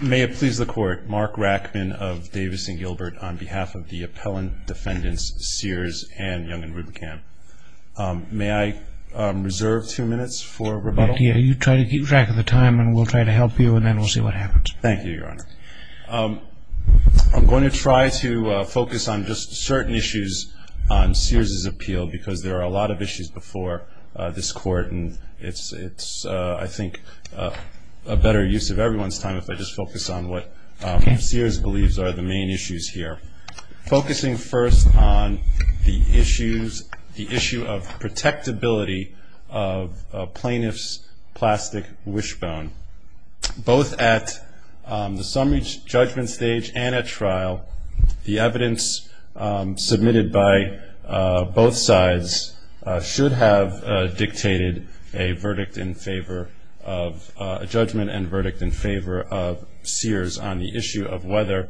May it please the Court, Mark Rackman of Davis and Gilbert on behalf of the appellant defendants Sears and Young and Roebuckham. May I reserve two minutes for rebuttal? Yeah, you try to keep track of the time and we'll try to help you and then we'll see what happens. Thank you, Your Honor. I'm going to try to focus on just certain issues on Sears' appeal because there are a lot of issues before this Court and it's I think a better use of everyone's time if I just focus on what Sears believes are the main issues here. Focusing first on the issues, the issue of protectability of a plaintiff's plastic wishbone. Both at the summary judgment stage and at trial, the evidence submitted by both sides should have dictated a verdict in favor of judgment and verdict in favor of Sears on the issue of whether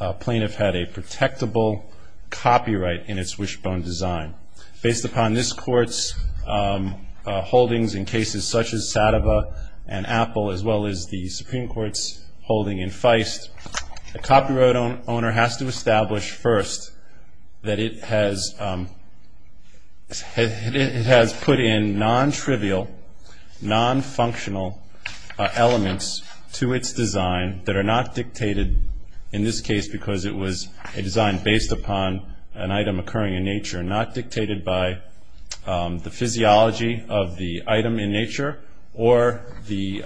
a plaintiff had a protectable copyright in its wishbone design. Based upon this Court's holdings in cases such as Sadova and Apple as well as the Supreme Court's holding in Feist, the copyright owner has to establish first that it has put in non-trivial, non-functional elements to its design that are not dictated in this case because it was a design based upon an item occurring in nature, not dictated by the physiology of the item in nature or the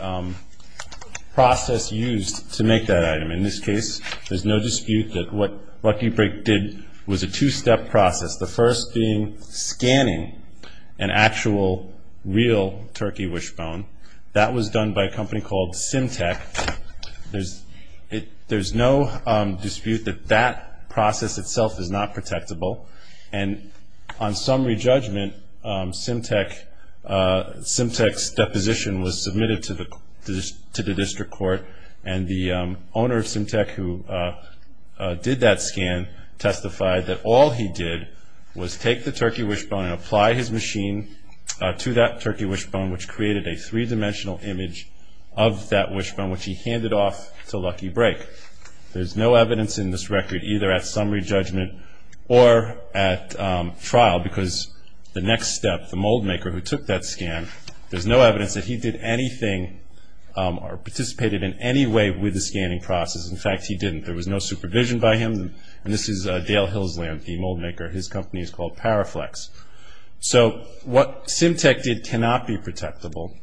process used to make that item. In this case, there's no dispute that what Lucky Brick did was a two-step process, the first being scanning an actual real turkey wishbone. That was done by a company called Symtec. There's no dispute that that process itself is not protectable. And on summary judgment, Symtec's deposition was submitted to the district court, and the owner of Symtec who did that scan testified that all he did was take the turkey wishbone and apply his machine to that turkey wishbone, which created a three-dimensional image of that wishbone, which he handed off to Lucky Brick. There's no evidence in this record either at summary judgment or at trial because the next step, the mold maker who took that scan, there's no evidence that he did anything or participated in any way with the scanning process. In fact, he didn't. There was no supervision by him. And this is Dale Hillsland, the mold maker. His company is called Paraflex. So what Symtec did cannot be protectable.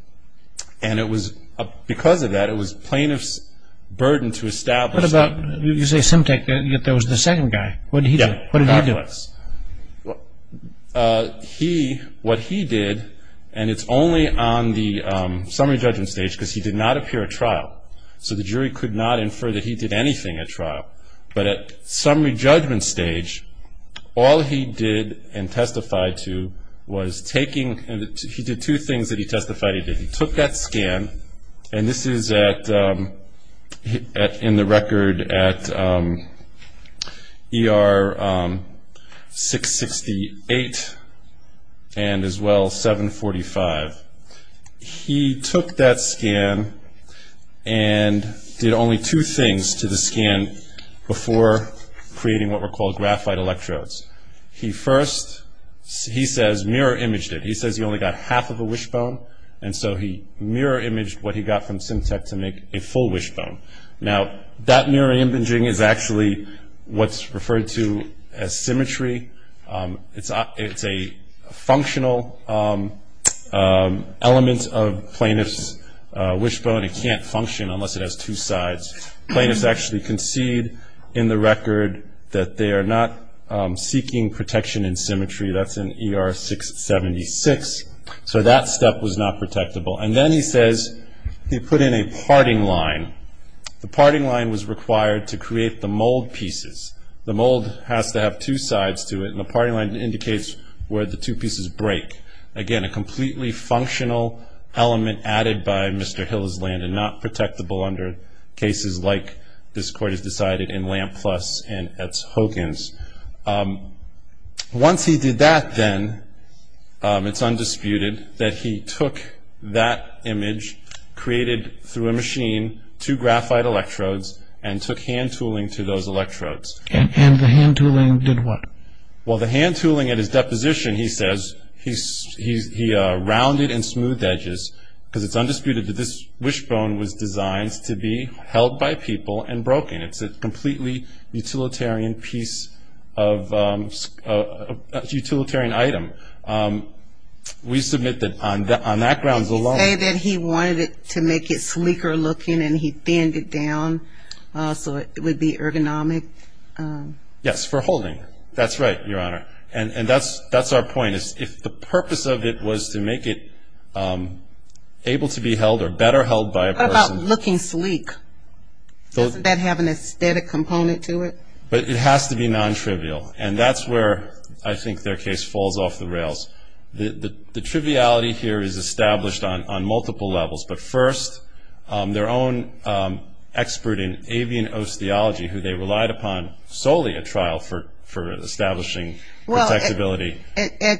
And because of that, it was plaintiff's burden to establish that. You say Symtec, yet there was the second guy. What did he do? Paraflex. What he did, and it's only on the summary judgment stage because he did not appear at trial, so the jury could not infer that he did anything at trial. But at summary judgment stage, all he did and testified to was taking, he did two things that he testified he did. He took that scan, and this is in the record at ER 668 and as well 745. He took that scan and did only two things to the scan before creating what were called graphite electrodes. He first, he says, mirror imaged it. He says he only got half of a wishbone, and so he mirror imaged what he got from Symtec to make a full wishbone. Now, that mirror imaging is actually what's referred to as symmetry. It's a functional element of plaintiff's wishbone. It can't function unless it has two sides. Plaintiffs actually concede in the record that they are not seeking protection in symmetry. That's in ER 676. So that step was not protectable. And then he says he put in a parting line. The parting line was required to create the mold pieces. The mold has to have two sides to it, and the parting line indicates where the two pieces break. Again, a completely functional element added by Mr. Hillis-Landon, not protectable under cases like this Court has decided in Lampless and Hogan's. Once he did that then, it's undisputed that he took that image, created through a machine two graphite electrodes, and took hand tooling to those electrodes. And the hand tooling did what? Well, the hand tooling at his deposition, he says, he rounded and smoothed edges, because it's undisputed that this wishbone was designed to be held by people and broken. It's a completely utilitarian item. We submit that on that grounds alone. Did he say that he wanted it to make it sleeker looking and he thinned it down so it would be ergonomic? Yes, for holding. That's right, Your Honor. And that's our point. If the purpose of it was to make it able to be held or better held by a person. What about looking sleek? Doesn't that have an aesthetic component to it? But it has to be non-trivial. And that's where I think their case falls off the rails. The triviality here is established on multiple levels. But first, their own expert in avian osteology, who they relied upon solely at trial for establishing protectability. Well,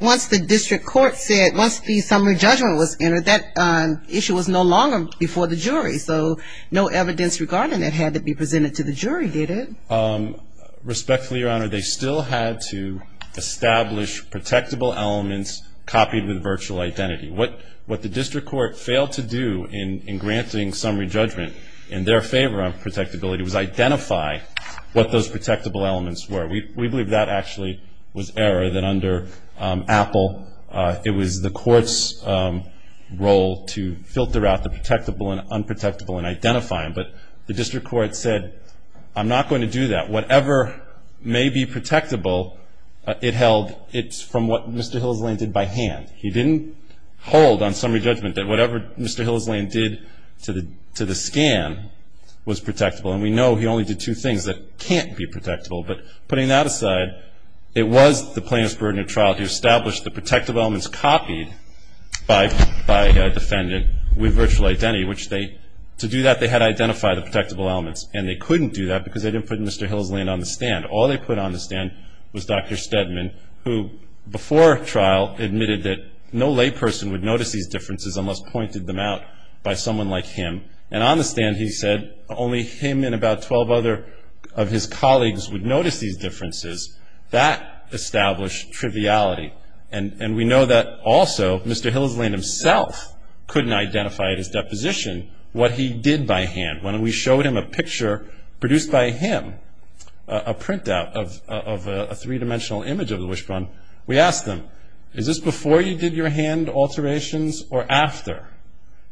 once the district court said, once the summary judgment was entered, that issue was no longer before the jury. So no evidence regarding it had to be presented to the jury, did it? Respectfully, Your Honor, they still had to establish protectable elements copied with virtual identity. What the district court failed to do in granting summary judgment in their favor of protectability, was identify what those protectable elements were. We believe that actually was error, that under Apple, it was the court's role to filter out the protectable and unprotectable and identify them. But the district court said, I'm not going to do that. Whatever may be protectable, it's from what Mr. Hillsland did by hand. He didn't hold on summary judgment that whatever Mr. Hillsland did to the scan was protectable. And we know he only did two things that can't be protectable. But putting that aside, it was the plaintiff's burden at trial to establish the protective elements copied by a defendant with virtual identity. To do that, they had to identify the protectable elements. And they couldn't do that because they didn't put Mr. Hillsland on the stand. All they put on the stand was Dr. Steadman, who before trial admitted that no layperson would notice these differences unless pointed them out by someone like him. And on the stand, he said, only him and about 12 other of his colleagues would notice these differences. That established triviality. And we know that also Mr. Hillsland himself couldn't identify at his deposition what he did by hand. When we showed him a picture produced by him, a printout of a three-dimensional image of the wishbone, we asked him, is this before you did your hand alterations or after?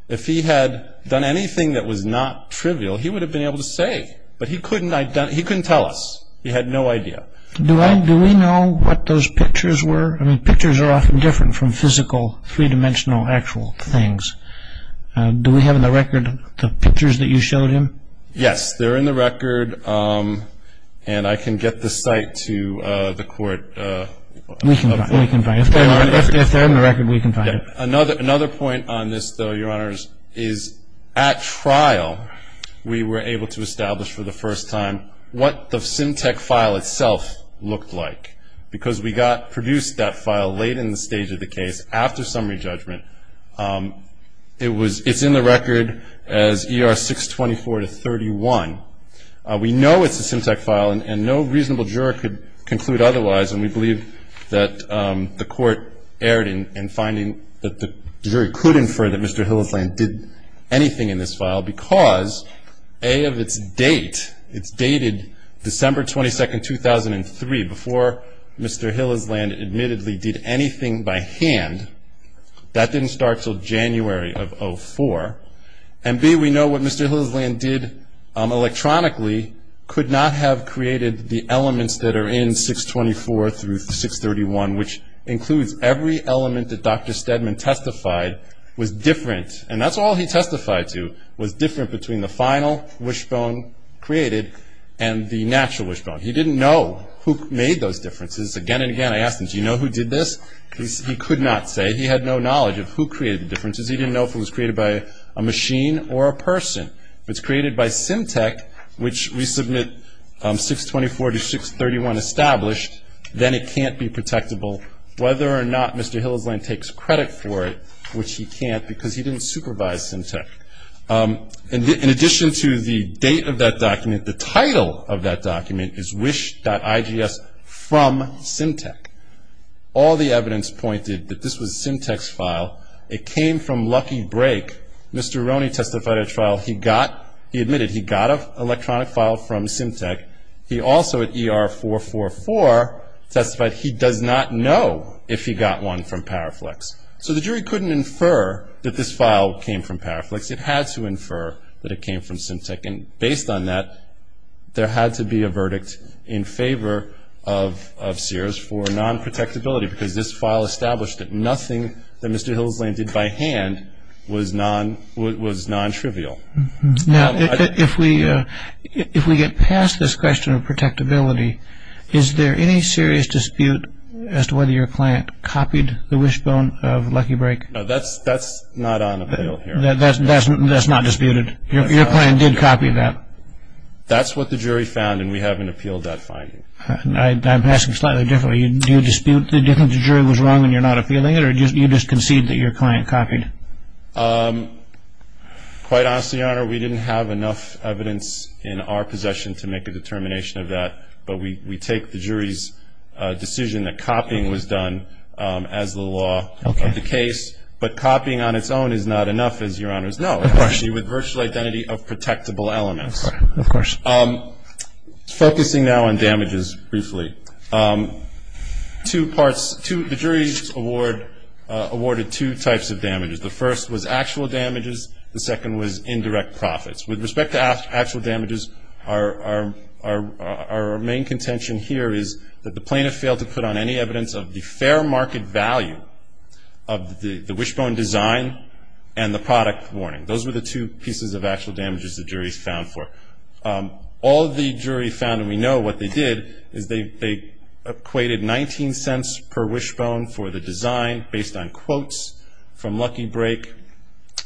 If he had done anything that was not trivial, he would have been able to say. But he couldn't tell us. He had no idea. Do we know what those pictures were? I mean, pictures are often different from physical three-dimensional actual things. Do we have in the record the pictures that you showed him? Yes, they're in the record. And I can get the site to the court. We can find it. If they're in the record, we can find it. Another point on this, though, Your Honors, is at trial we were able to establish for the first time what the SimTech file itself looked like, because we produced that file late in the stage of the case after summary judgment. It's in the record as ER 624-31. We know it's a SimTech file, and no reasonable juror could conclude otherwise, and we believe that the court erred in finding that the juror could infer that Mr. Hillisland did anything in this file, because, A, of its date, it's dated December 22, 2003, before Mr. Hillisland admittedly did anything by hand. That didn't start until January of 2004. And, B, we know what Mr. Hillisland did electronically could not have created the elements that are in 624-631, which includes every element that Dr. Steadman testified was different, and that's all he testified to, was different between the final wishbone created and the natural wishbone. He didn't know who made those differences. Again and again I asked him, do you know who did this? He could not say. He had no knowledge of who created the differences. He didn't know if it was created by a machine or a person. If it's created by SimTech, which we submit 624-631 established, then it can't be protectable, whether or not Mr. Hillisland takes credit for it, which he can't, because he didn't supervise SimTech. In addition to the date of that document, the title of that document is wish.igs from SimTech. All the evidence pointed that this was a SimTech file. It came from Lucky Break. Mr. Roney testified at trial he got, he admitted he got an electronic file from SimTech. He also at ER444 testified he does not know if he got one from Paraflex. So the jury couldn't infer that this file came from Paraflex. It had to infer that it came from SimTech, and based on that, there had to be a verdict in favor of Sears for non-protectability, because this file established that nothing that Mr. Hillisland did by hand was non-trivial. Now, if we get past this question of protectability, is there any serious dispute as to whether your client copied the wishbone of Lucky Break? No, that's not on appeal here. That's not disputed? Your client did copy that? That's what the jury found, and we haven't appealed that finding. I'm asking slightly differently. Do you dispute that the jury was wrong and you're not appealing it, or you just concede that your client copied it? Quite honestly, Your Honor, we didn't have enough evidence in our possession to make a determination of that, but we take the jury's decision that copying was done as the law of the case. But copying on its own is not enough, as Your Honor's know, especially with virtual identity of protectable elements. Of course. Focusing now on damages briefly, the jury awarded two types of damages. The first was actual damages. The second was indirect profits. With respect to actual damages, our main contention here is that the plaintiff failed to put on any evidence of the fair market value of the wishbone design and the product warning. Those were the two pieces of actual damages the jury's found for. All the jury found, and we know what they did, is they equated 19 cents per wishbone for the design based on quotes from Lucky Break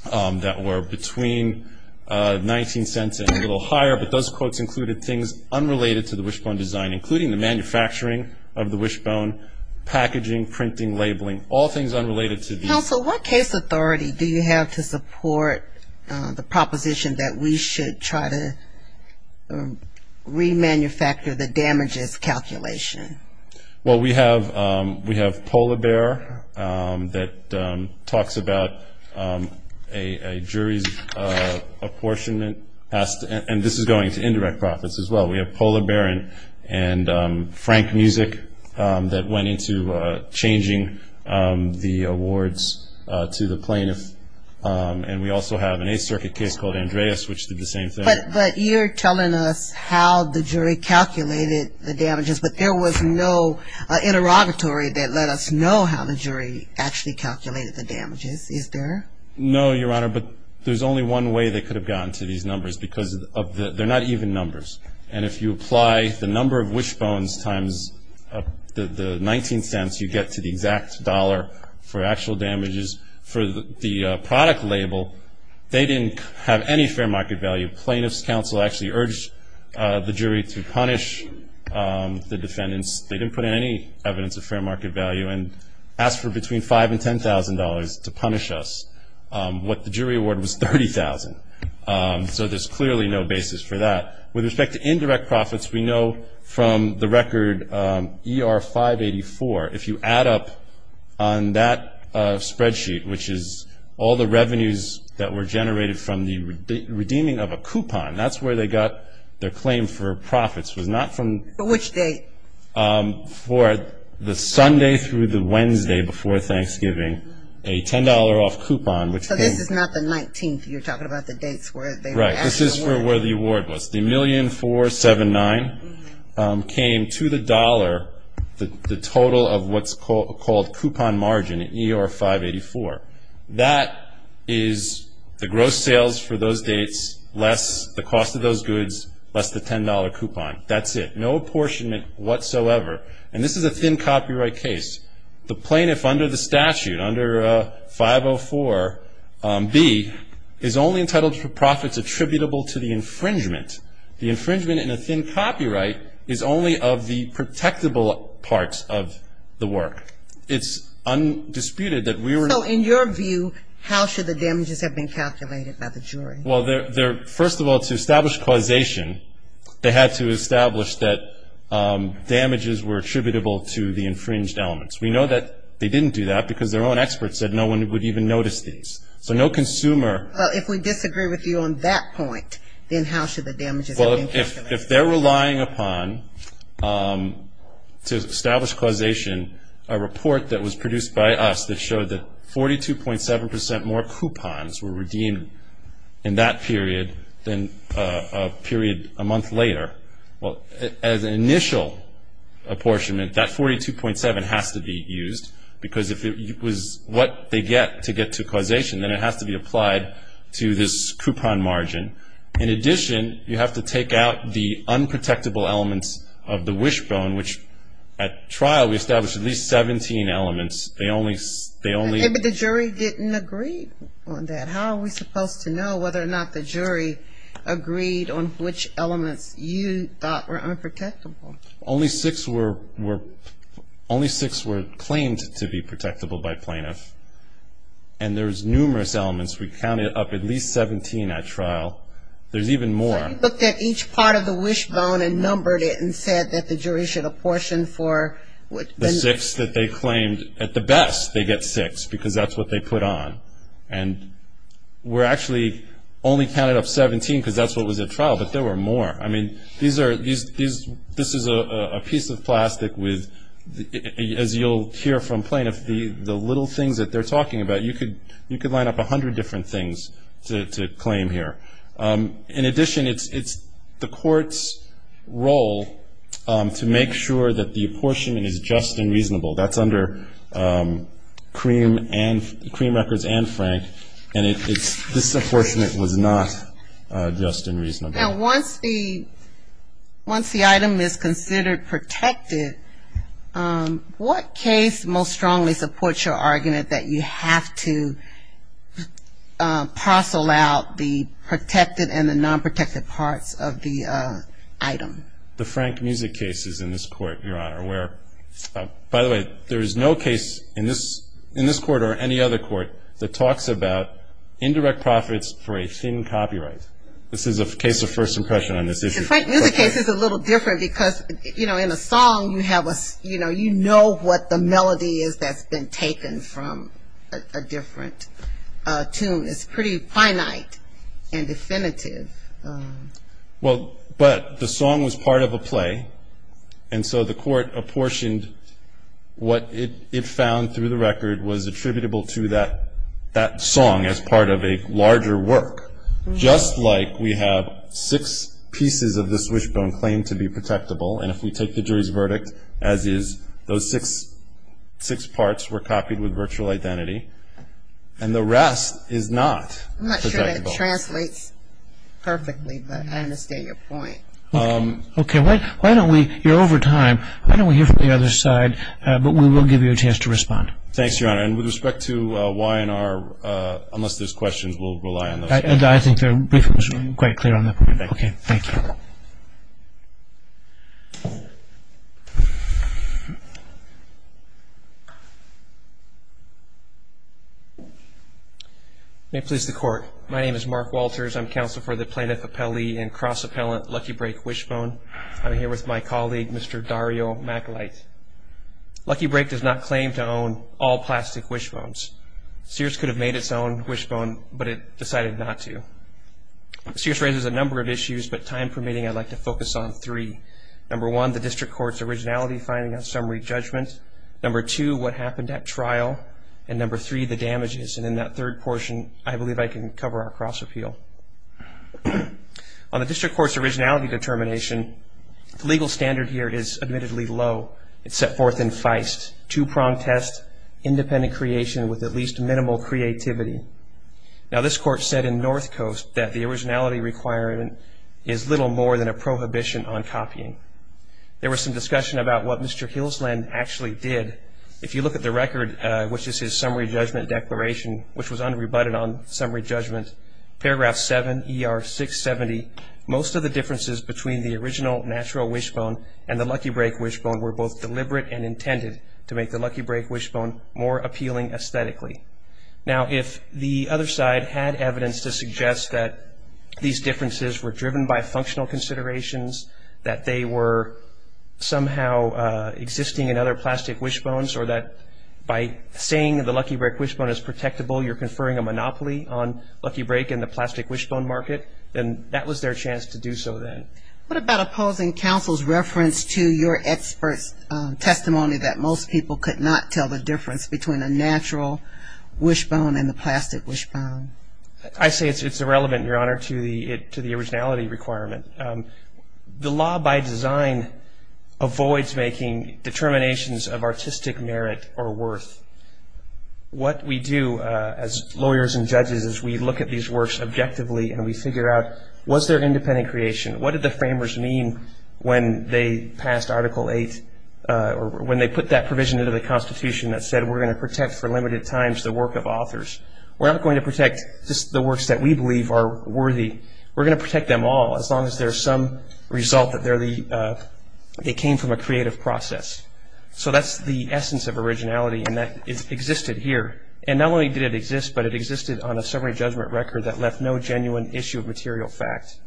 that were between 19 cents and a little higher, but those quotes included things unrelated to the wishbone design, including the manufacturing of the wishbone, packaging, printing, labeling, all things unrelated to these. Counsel, what case authority do you have to support the proposition that we should try to remanufacture the damages calculation? Well, we have Polar Bear that talks about a jury's apportionment, and this is going to indirect profits as well. We have Polar Bear and Frank Music that went into changing the awards to the plaintiff, and we also have an Eighth Circuit case called Andreas, which did the same thing. But you're telling us how the jury calculated the damages, but there was no interrogatory that let us know how the jury actually calculated the damages. Is there? No, Your Honor, but there's only one way they could have gotten to these numbers, because they're not even numbers, and if you apply the number of wishbones times the 19 cents, you get to the exact dollar for actual damages. For the product label, they didn't have any fair market value. Plaintiff's counsel actually urged the jury to punish the defendants. They didn't put any evidence of fair market value and asked for between $5,000 and $10,000 to punish us. What the jury awarded was $30,000. So there's clearly no basis for that. With respect to indirect profits, we know from the record ER-584, if you add up on that spreadsheet, which is all the revenues that were generated from the redeeming of a coupon, that's where they got their claim for profits was not from. For which date? For the Sunday through the Wednesday before Thanksgiving, a $10 off coupon. So this is not the 19th you're talking about, the dates where they were asked for. Right. This is for where the award was. The $1,479 came to the dollar, the total of what's called coupon margin at ER-584. That is the gross sales for those dates, less the cost of those goods, less the $10 coupon. That's it. No apportionment whatsoever. And this is a thin copyright case. The plaintiff under the statute, under 504-B, is only entitled for profits attributable to the infringement. The infringement in a thin copyright is only of the protectable parts of the work. It's undisputed that we were not. So in your view, how should the damages have been calculated by the jury? Well, first of all, to establish causation, they had to establish that damages were attributable to the infringed elements. We know that they didn't do that because their own experts said no one would even notice these. So no consumer. Well, if we disagree with you on that point, then how should the damages have been calculated? Well, if they're relying upon to establish causation a report that was produced by us that showed that 42.7 percent more coupons were redeemed in that period than a period a month later, well, as an initial apportionment, that 42.7 has to be used because if it was what they get to get to causation, then it has to be applied to this coupon margin. In addition, you have to take out the unprotectable elements of the wishbone, which at trial we established at least 17 elements. But the jury didn't agree on that. How are we supposed to know whether or not the jury agreed on which elements you thought were unprotectable? Only six were claimed to be protectable by plaintiffs, and there's numerous elements. We counted up at least 17 at trial. There's even more. So you looked at each part of the wishbone and numbered it and said that the jury should apportion for what? The six that they claimed. At the best, they get six because that's what they put on. And we actually only counted up 17 because that's what was at trial, but there were more. I mean, this is a piece of plastic with, as you'll hear from plaintiffs, the little things that they're talking about, you could line up 100 different things to claim here. In addition, it's the court's role to make sure that the apportionment is just and reasonable. That's under Cream Records and Frank, and this apportionment was not just and reasonable. Now, once the item is considered protected, what case most strongly supports your argument that you have to parcel out the protected and the nonprotected parts of the item? The Frank Music case is in this court, Your Honor, where, by the way, there is no case in this court or any other court that talks about indirect profits for a thin copyright. This is a case of first impression on this issue. The Frank Music case is a little different because, you know, in a song you have a, you know, you know what the melody is that's been taken from a different tune. It's pretty finite and definitive. Well, but the song was part of a play, and so the court apportioned what it found through the record was attributable to that song as part of a larger work, just like we have six pieces of the swishbone claimed to be protectable, and if we take the jury's verdict as is, those six parts were copied with virtual identity, and the rest is not. I'm not sure that translates perfectly, but I understand your point. Okay, why don't we, you're over time, why don't we hear from the other side, but we will give you a chance to respond. Thanks, Your Honor, and with respect to Y&R, unless there's questions, we'll rely on those. I think your brief was quite clear on that point. Okay, thank you. May it please the court. My name is Mark Walters. I'm counsel for the plaintiff appellee and cross-appellant Lucky Break Swishbone. I'm here with my colleague, Mr. Dario McElite. Lucky Break does not claim to own all plastic swishbones. Sears could have made its own swishbone, but it decided not to. Sears raises a number of issues, but time permitting, I'd like to focus on three. Number one, the district court's originality finding of summary judgment. Number two, what happened at trial. And number three, the damages. And in that third portion, I believe I can cover our cross-appeal. On the district court's originality determination, the legal standard here is admittedly low. It's set forth in Feist, two-prong test, independent creation with at least minimal creativity. Now, this court said in North Coast that the originality requirement is little more than a prohibition on copying. There was some discussion about what Mr. Hillsland actually did. If you look at the record, which is his summary judgment declaration, which was unrebutted on summary judgment, paragraph 7, ER 670, most of the differences between the original natural wishbone and the Lucky Break wishbone were both deliberate and intended to make the Lucky Break wishbone more appealing aesthetically. Now, if the other side had evidence to suggest that these differences were driven by functional considerations, that they were somehow existing in other plastic wishbones, or that by saying the Lucky Break wishbone is protectable, you're conferring a monopoly on Lucky Break in the plastic wishbone market, then that was their chance to do so then. What about opposing counsel's reference to your expert's testimony that most people could not tell the difference between a natural wishbone and the plastic wishbone? I say it's irrelevant, Your Honor, to the originality requirement. The law by design avoids making determinations of artistic merit or worth. What we do as lawyers and judges is we look at these works objectively, and we figure out, was there independent creation? What did the framers mean when they put that provision into the Constitution that said we're going to protect for limited times the work of authors? We're not going to protect just the works that we believe are worthy. We're going to protect them all as long as there's some result that they came from a creative process. So that's the essence of originality, and that existed here. And not only did it exist, but it existed on a summary judgment record that left no genuine issue of material fact.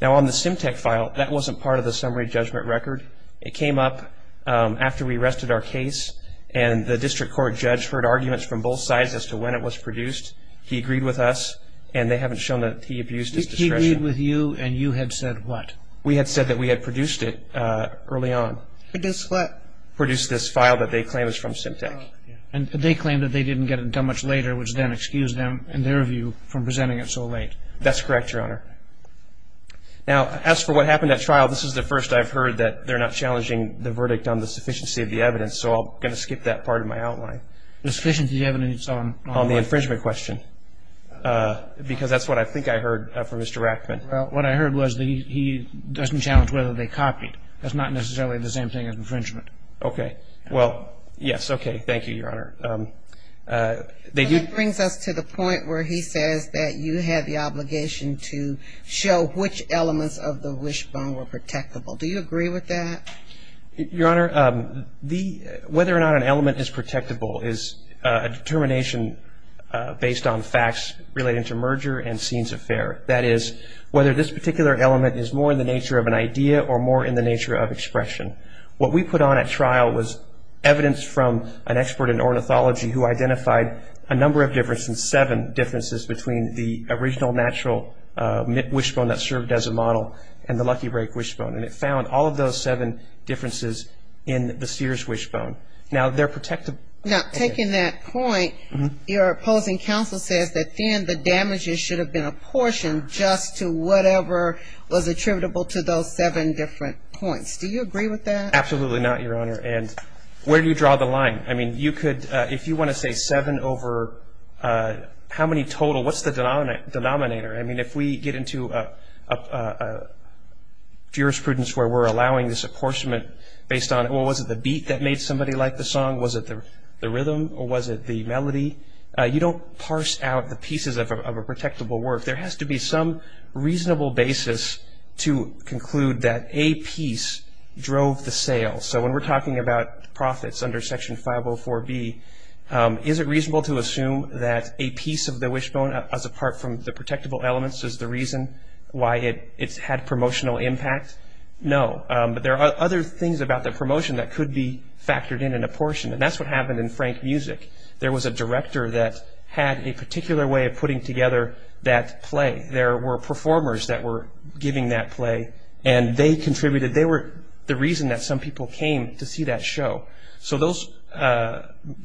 Now, on the SimTech file, that wasn't part of the summary judgment record. It came up after we rested our case, and the district court judge heard arguments from both sides as to when it was produced. He agreed with us, and they haven't shown that he abused his discretion. He agreed with you, and you had said what? We had said that we had produced it early on. I guess what? Produced this file that they claim is from SimTech. And they claim that they didn't get it done much later, which then excused them, in their view, from presenting it so late. That's correct, Your Honor. Now, as for what happened at trial, this is the first I've heard that they're not challenging the verdict on the sufficiency of the evidence, so I'm going to skip that part of my outline. The sufficiency of the evidence on what? On the infringement question, because that's what I think I heard from Mr. Rackman. Well, what I heard was that he doesn't challenge whether they copied. That's not necessarily the same thing as infringement. Okay. Well, yes. Okay. Thank you, Your Honor. That brings us to the point where he says that you had the obligation to show which elements of the wishbone were protectable. Do you agree with that? Your Honor, whether or not an element is protectable is a determination based on facts relating to merger and scenes of fare. That is, whether this particular element is more in the nature of an idea or more in the nature of expression. What we put on at trial was evidence from an expert in ornithology who identified a number of differences, seven differences, between the original natural wishbone that served as a model and the Lucky Break wishbone, and it found all of those seven differences in the Sears wishbone. Now, they're protectable. Now, taking that point, your opposing counsel says that, then, the damages should have been apportioned just to whatever was attributable to those seven different points. Do you agree with that? Absolutely not, Your Honor. And where do you draw the line? I mean, you could, if you want to say seven over how many total, what's the denominator? I mean, if we get into a jurisprudence where we're allowing this apportionment based on, well, was it the beat that made somebody like the song, was it the rhythm, or was it the melody? You don't parse out the pieces of a protectable work. There has to be some reasonable basis to conclude that a piece drove the sale. So when we're talking about profits under Section 504B, is it reasonable to assume that a piece of the wishbone, as apart from the protectable elements, is the reason why it's had promotional impact? No. But there are other things about the promotion that could be factored in in apportionment. And that's what happened in Frank Music. There was a director that had a particular way of putting together that play. There were performers that were giving that play, and they contributed. They were the reason that some people came to see that show. So those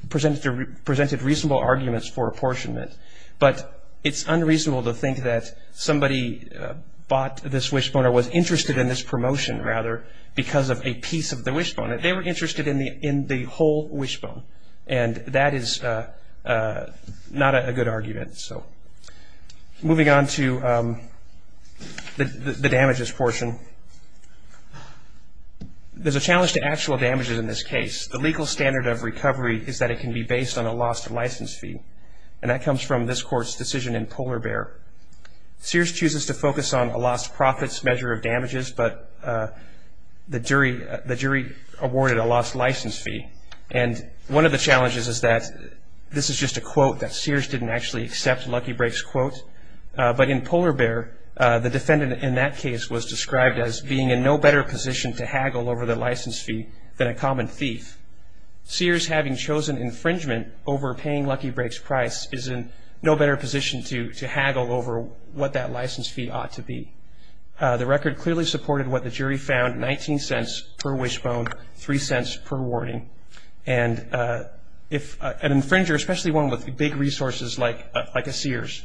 presented reasonable arguments for apportionment. But it's unreasonable to think that somebody bought this wishbone or was interested in this promotion, rather, because of a piece of the wishbone. They were interested in the whole wishbone. And that is not a good argument. Moving on to the damages portion. There's a challenge to actual damages in this case. The legal standard of recovery is that it can be based on a lost license fee. And that comes from this court's decision in Polar Bear. Sears chooses to focus on a lost profits measure of damages, but the jury awarded a lost license fee. And one of the challenges is that this is just a quote that Sears didn't actually accept Lucky Break's quote. But in Polar Bear, the defendant in that case was described as being in no better position to haggle over the license fee than a common thief. Sears, having chosen infringement over paying Lucky Break's price, is in no better position to haggle over what that license fee ought to be. The record clearly supported what the jury found, 19 cents per wishbone, 3 cents per warning. And if an infringer, especially one with big resources like a Sears,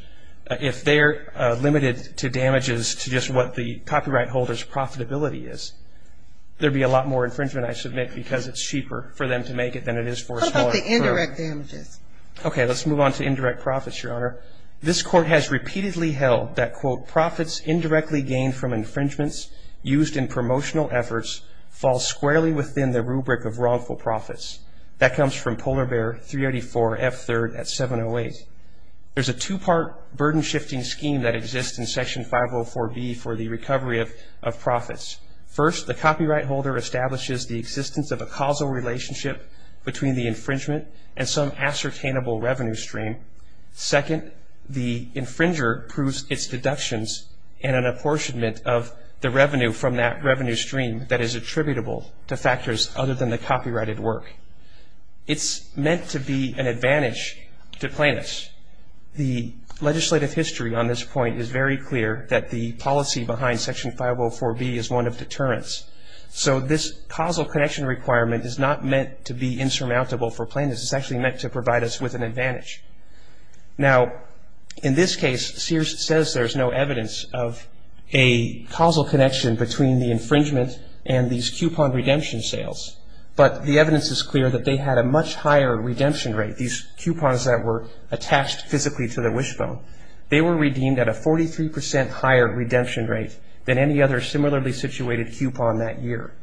if they're limited to damages to just what the copyright holder's profitability is, there'd be a lot more infringement, I submit, because it's cheaper for them to make it than it is for a small firm. How about the indirect damages? Okay, let's move on to indirect profits, Your Honor. This court has repeatedly held that, quote, profits indirectly gained from infringements used in promotional efforts fall squarely within the rubric of wrongful profits. That comes from Polar Bear 384F3 at 708. There's a two-part burden-shifting scheme that exists in Section 504B for the recovery of profits. First, the copyright holder establishes the existence of a causal relationship between the infringement and some ascertainable revenue stream. Second, the infringer proves its deductions and an apportionment of the revenue from that revenue stream that is attributable to factors other than the copyrighted work. It's meant to be an advantage to plaintiffs. The legislative history on this point is very clear that the policy behind Section 504B is one of deterrence. So this causal connection requirement is not meant to be insurmountable for plaintiffs. It's actually meant to provide us with an advantage. Now, in this case, Sears says there's no evidence of a causal connection between the infringement and these coupon redemption sales, but the evidence is clear that they had a much higher redemption rate. These coupons that were attached physically to their wishbone, they were redeemed at a 43% higher redemption rate than any other similarly situated coupon that year.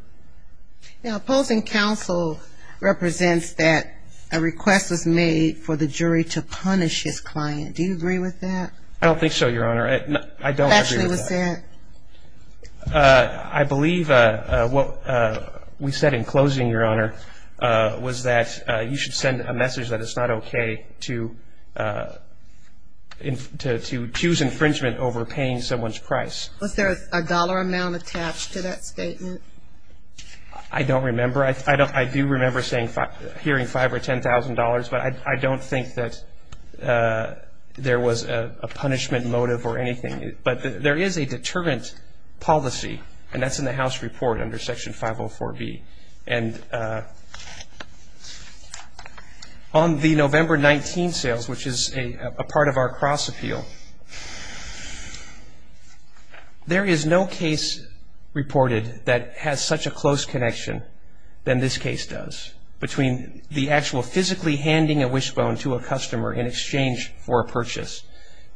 Now, opposing counsel represents that a request was made for the jury to punish his client. Do you agree with that? I don't think so, Your Honor. I don't agree with that. Lastly, what's that? I believe what we said in closing, Your Honor, was that you should send a message that it's not okay to choose infringement over paying someone's price. Was there a dollar amount attached to that statement? I don't remember. I do remember hearing $5,000 or $10,000, but I don't think that there was a punishment motive or anything. But there is a deterrent policy, and that's in the House report under Section 504B. And on the November 19th sales, which is a part of our cross-appeal, there is no case reported that has such a close connection than this case does between the actual physically handing a wishbone to a customer in exchange for a purchase.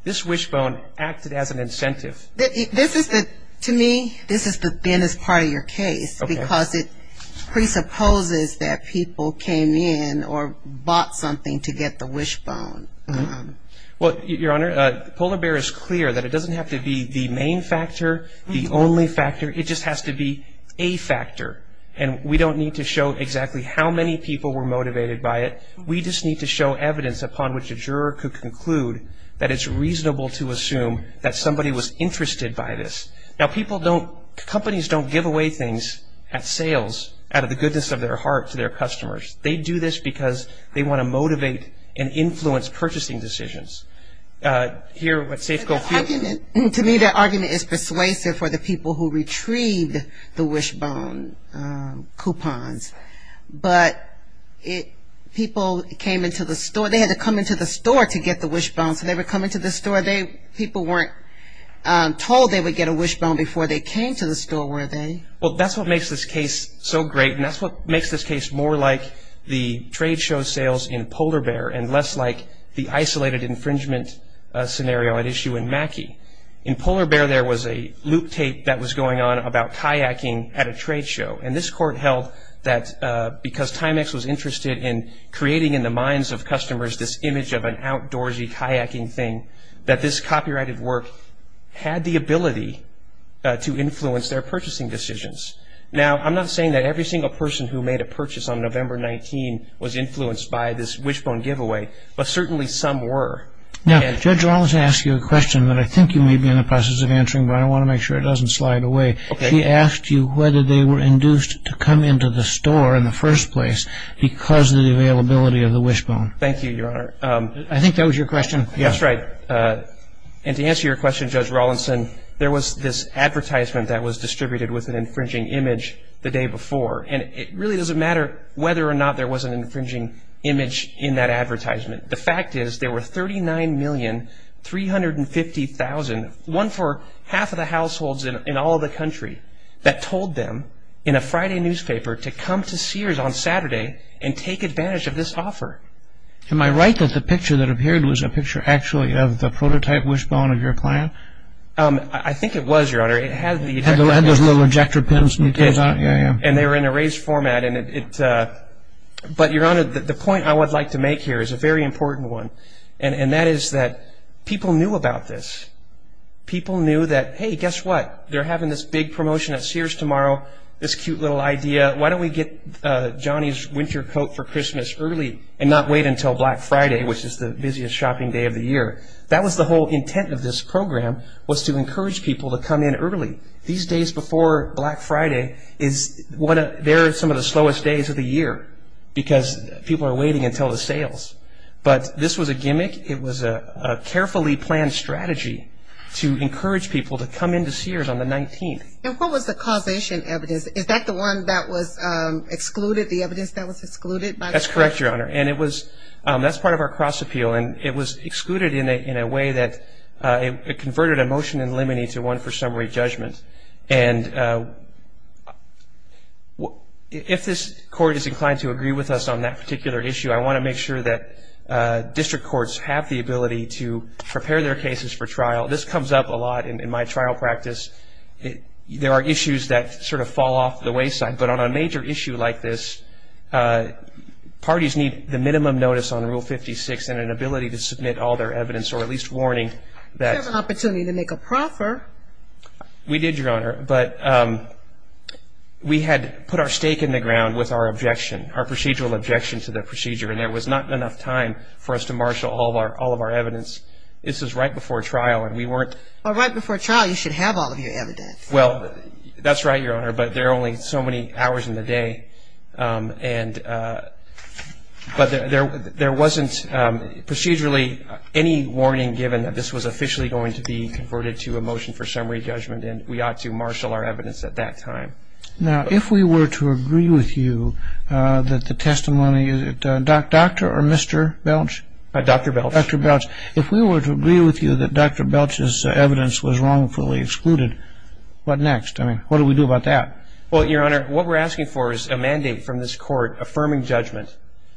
This wishbone acted as an incentive. To me, this is the thinnest part of your case because it presupposes that people came in or bought something to get the wishbone. Well, Your Honor, the polar bear is clear that it doesn't have to be the main factor, the only factor. It just has to be a factor. And we don't need to show exactly how many people were motivated by it. We just need to show evidence upon which a juror could conclude that it's reasonable to assume that somebody was interested by this. Now, companies don't give away things at sales out of the goodness of their heart to their customers. They do this because they want to motivate and influence purchasing decisions. To me, that argument is persuasive for the people who retrieved the wishbone coupons. But people came into the store. They had to come into the store to get the wishbone. So they were coming to the store. People weren't told they would get a wishbone before they came to the store, were they? Well, that's what makes this case so great, and that's what makes this case more like the trade show sales in polar bear and less like the isolated infringement scenario at issue in Mackey. In polar bear, there was a loop tape that was going on about kayaking at a trade show. And this court held that because Timex was interested in creating in the minds of customers this image of an outdoorsy kayaking thing, that this copyrighted work had the ability to influence their purchasing decisions. Now, I'm not saying that every single person who made a purchase on November 19 was influenced by this wishbone giveaway, but certainly some were. Now, Judge Rollins asked you a question that I think you may be in the process of answering, but I want to make sure it doesn't slide away. She asked you whether they were induced to come into the store in the first place because of the availability of the wishbone. Thank you, Your Honor. I think that was your question. That's right. And to answer your question, Judge Rollinson, there was this advertisement that was distributed with an infringing image the day before. And it really doesn't matter whether or not there was an infringing image in that advertisement. The fact is there were 39,350,000, one for half of the households in all of the country, that told them in a Friday newspaper to come to Sears on Saturday and take advantage of this offer. Am I right that the picture that appeared was a picture actually of the prototype wishbone of your plant? I think it was, Your Honor. It had those little ejector pins. And they were in a raised format. But, Your Honor, the point I would like to make here is a very important one, and that is that people knew about this. People knew that, hey, guess what? They're having this big promotion at Sears tomorrow, this cute little idea. Why don't we get Johnny's winter coat for Christmas early and not wait until Black Friday, which is the busiest shopping day of the year? That was the whole intent of this program was to encourage people to come in early. These days before Black Friday, they're some of the slowest days of the year because people are waiting until the sales. But this was a gimmick. It was a carefully planned strategy to encourage people to come into Sears on the 19th. And what was the causation evidence? Is that the one that was excluded, the evidence that was excluded by the court? That's correct, Your Honor. And that's part of our cross-appeal. And it was excluded in a way that it converted a motion in limine to one for summary judgment. And if this court is inclined to agree with us on that particular issue, I want to make sure that district courts have the ability to prepare their cases for trial. This comes up a lot in my trial practice. There are issues that sort of fall off the wayside. But on a major issue like this, parties need the minimum notice on Rule 56 and an ability to submit all their evidence or at least warning that – You have an opportunity to make a proffer. We did, Your Honor. But we had put our stake in the ground with our objection, our procedural objection to the procedure. And there was not enough time for us to marshal all of our evidence. This was right before trial, and we weren't – Well, right before trial, you should have all of your evidence. Well, that's right, Your Honor. But there are only so many hours in the day. But there wasn't procedurally any warning given that this was officially going to be converted to a motion for summary judgment, and we ought to marshal our evidence at that time. Now, if we were to agree with you that the testimony – Dr. or Mr. Belch? Dr. Belch. Dr. Belch. If we were to agree with you that Dr. Belch's evidence was wrongfully excluded, what next? I mean, what do we do about that? Well, Your Honor, what we're asking for is a mandate from this court affirming judgment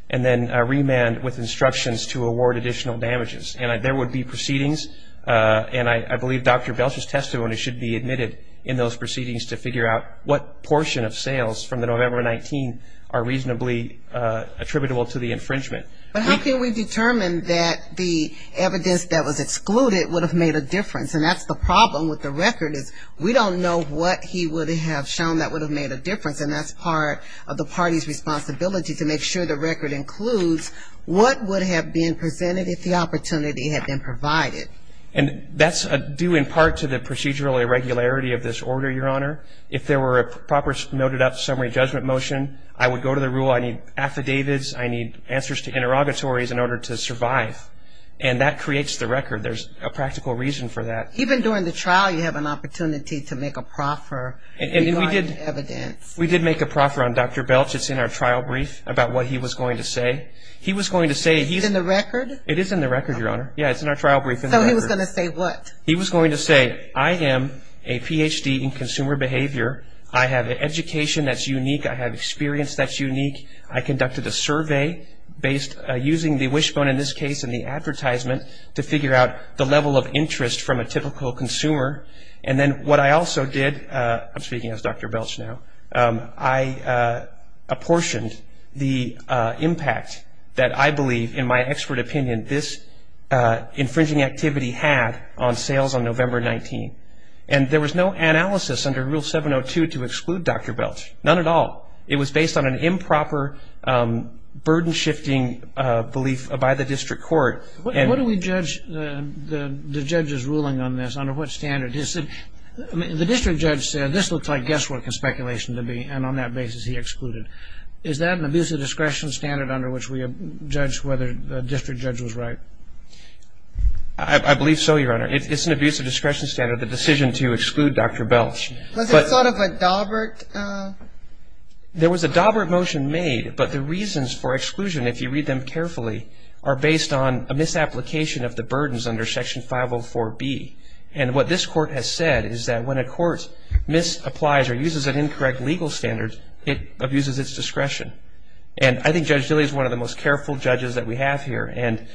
and then a remand with instructions to award additional damages. And there would be proceedings, and I believe Dr. Belch's testimony should be admitted in those proceedings to figure out what portion of sales from the November 19 are reasonably attributable to the infringement. But how can we determine that the evidence that was excluded would have made a difference? And that's the problem with the record is we don't know what he would have shown that would have made a difference, and that's part of the party's responsibility to make sure the record includes what would have been presented if the opportunity had been provided. And that's due in part to the procedural irregularity of this order, Your Honor. If there were a proper noted-up summary judgment motion, I would go to the rule, I need affidavits, I need answers to interrogatories in order to survive. And that creates the record. There's a practical reason for that. Even during the trial, you have an opportunity to make a proffer regarding evidence. We did make a proffer on Dr. Belch. It's in our trial brief about what he was going to say. It's in the record? It is in the record, Your Honor. Yeah, it's in our trial brief. So he was going to say what? He was going to say, I am a Ph.D. in consumer behavior. I have an education that's unique. I have experience that's unique. I conducted a survey using the wishbone in this case and the advertisement to figure out the level of interest from a typical consumer. And then what I also did, I'm speaking as Dr. Belch now, I apportioned the impact that I believe, in my expert opinion, this infringing activity had on sales on November 19. And there was no analysis under Rule 702 to exclude Dr. Belch, none at all. It was based on an improper, burden-shifting belief by the district court. What do we judge the judge's ruling on this, under what standard? The district judge said this looks like guesswork and speculation to me, and on that basis he excluded. Is that an abuse of discretion standard under which we judge whether the district judge was right? I believe so, Your Honor. It's an abuse of discretion standard, the decision to exclude Dr. Belch. Was it sort of a daubert? There was a daubert motion made, but the reasons for exclusion, if you read them carefully, are based on a misapplication of the burdens under Section 504B. And what this court has said is that when a court misapplies or uses an incorrect legal standard, it abuses its discretion. And I think Judge Dilley is one of the most careful judges that we have here. And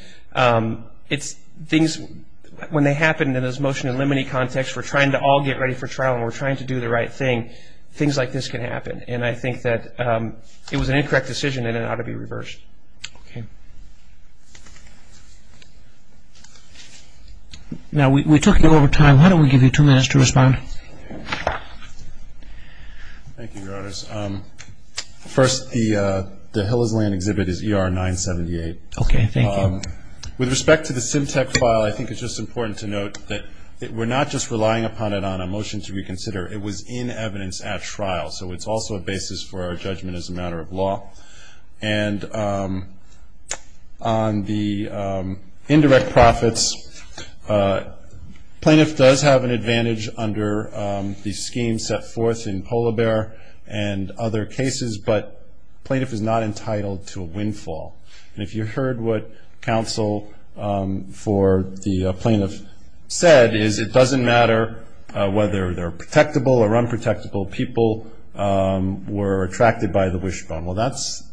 when they happen in this motion in limine context, we're trying to all get ready for trial and we're trying to do the right thing, things like this can happen. And I think that it was an incorrect decision and it ought to be reversed. Okay. Now, we took you over time. Why don't we give you two minutes to respond? Thank you, Your Honors. First, the Hill is Land exhibit is ER 978. Okay, thank you. With respect to the SimTech file, I think it's just important to note that we're not just relying upon it on a motion to reconsider. It was in evidence at trial, so it's also a basis for our judgment as a matter of law. And on the indirect profits, plaintiff does have an advantage under the scheme set forth in Polar Bear and other cases, but plaintiff is not entitled to a windfall. And if you heard what counsel for the plaintiff said, is it doesn't matter whether they're protectable or unprotectable. People were attracted by the wishbone. Well, that's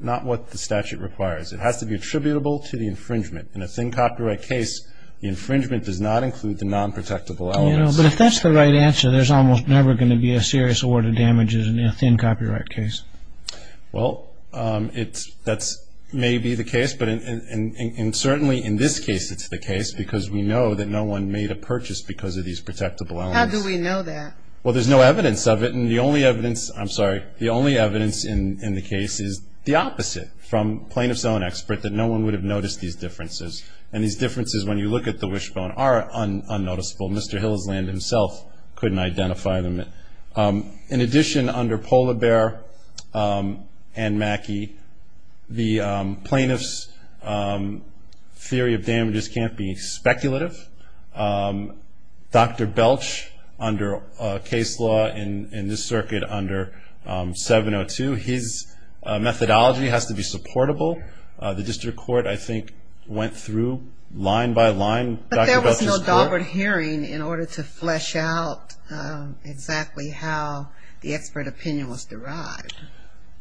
not what the statute requires. It has to be attributable to the infringement. In a thin copyright case, the infringement does not include the nonprotectable elements. But if that's the right answer, there's almost never going to be a serious order of damages in a thin copyright case. Well, that may be the case, but certainly in this case it's the case because we know that no one made a purchase because of these protectable elements. How do we know that? Well, there's no evidence of it, and the only evidence, I'm sorry, the only evidence in the case is the opposite from plaintiff's own expert, that no one would have noticed these differences. And these differences, when you look at the wishbone, are unnoticeable. Mr. Hillsland himself couldn't identify them. In addition, under Polar Bear and Mackey, the plaintiff's theory of damages can't be speculative. Dr. Belch, under case law in this circuit under 702, his methodology has to be supportable. The district court, I think, went through line by line Dr. Belch's court. They had a Daubert hearing in order to flesh out exactly how the expert opinion was derived.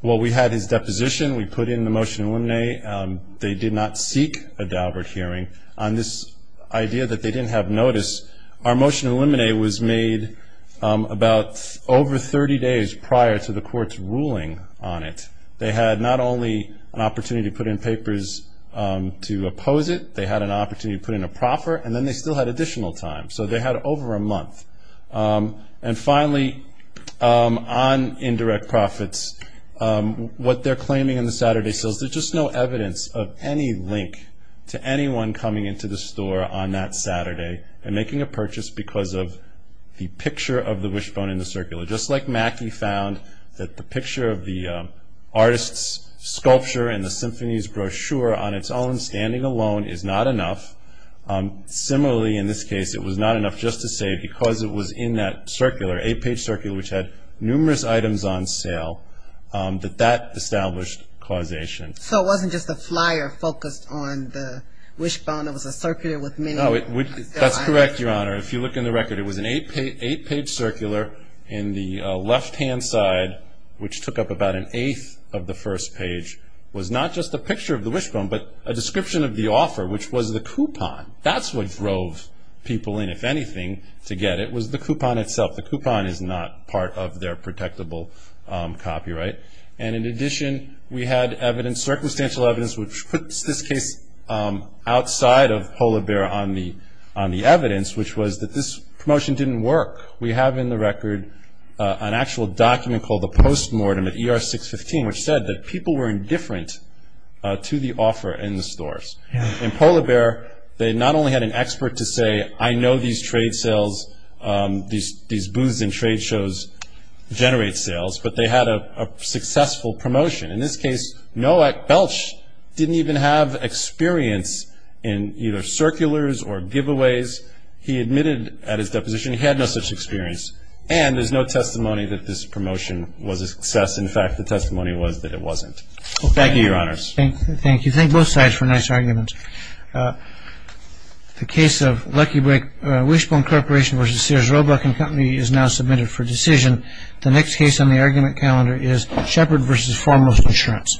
Well, we had his deposition. We put in the motion to eliminate. They did not seek a Daubert hearing. On this idea that they didn't have notice, our motion to eliminate was made about over 30 days prior to the court's ruling on it. They had not only an opportunity to put in papers to oppose it, they had an opportunity to put in a proffer, and then they still had additional time. So they had over a month. And finally, on indirect profits, what they're claiming in the Saturday sales, there's just no evidence of any link to anyone coming into the store on that Saturday and making a purchase because of the picture of the wishbone in the circular. Just like Mackey found that the picture of the artist's sculpture and the symphony's brochure on its own standing alone is not enough, similarly in this case it was not enough just to say because it was in that circular, an eight-page circular which had numerous items on sale, that that established causation. So it wasn't just the flyer focused on the wishbone. It was a circular with many items. That's correct, Your Honor. If you look in the record, it was an eight-page circular in the left-hand side, which took up about an eighth of the first page, was not just a picture of the wishbone but a description of the offer, which was the coupon. That's what drove people in, if anything, to get it was the coupon itself. The coupon is not part of their protectable copyright. And in addition, we had evidence, circumstantial evidence, which puts this case outside of polar bear on the evidence, which was that this promotion didn't work. We have in the record an actual document called the Postmortem at ER 615, which said that people were indifferent to the offer in the stores. In polar bear, they not only had an expert to say, I know these trade sales, these booths and trade shows generate sales, but they had a successful promotion. In this case, Belch didn't even have experience in either circulars or giveaways. He admitted at his deposition he had no such experience, and there's no testimony that this promotion was a success. In fact, the testimony was that it wasn't. Thank you, Your Honors. Thank you. Thank both sides for nice arguments. The case of Lucky Break Wishbone Corporation v. Sears Roebuck & Company is now submitted for decision. The next case on the argument calendar is Shepard v. Foremost Insurance.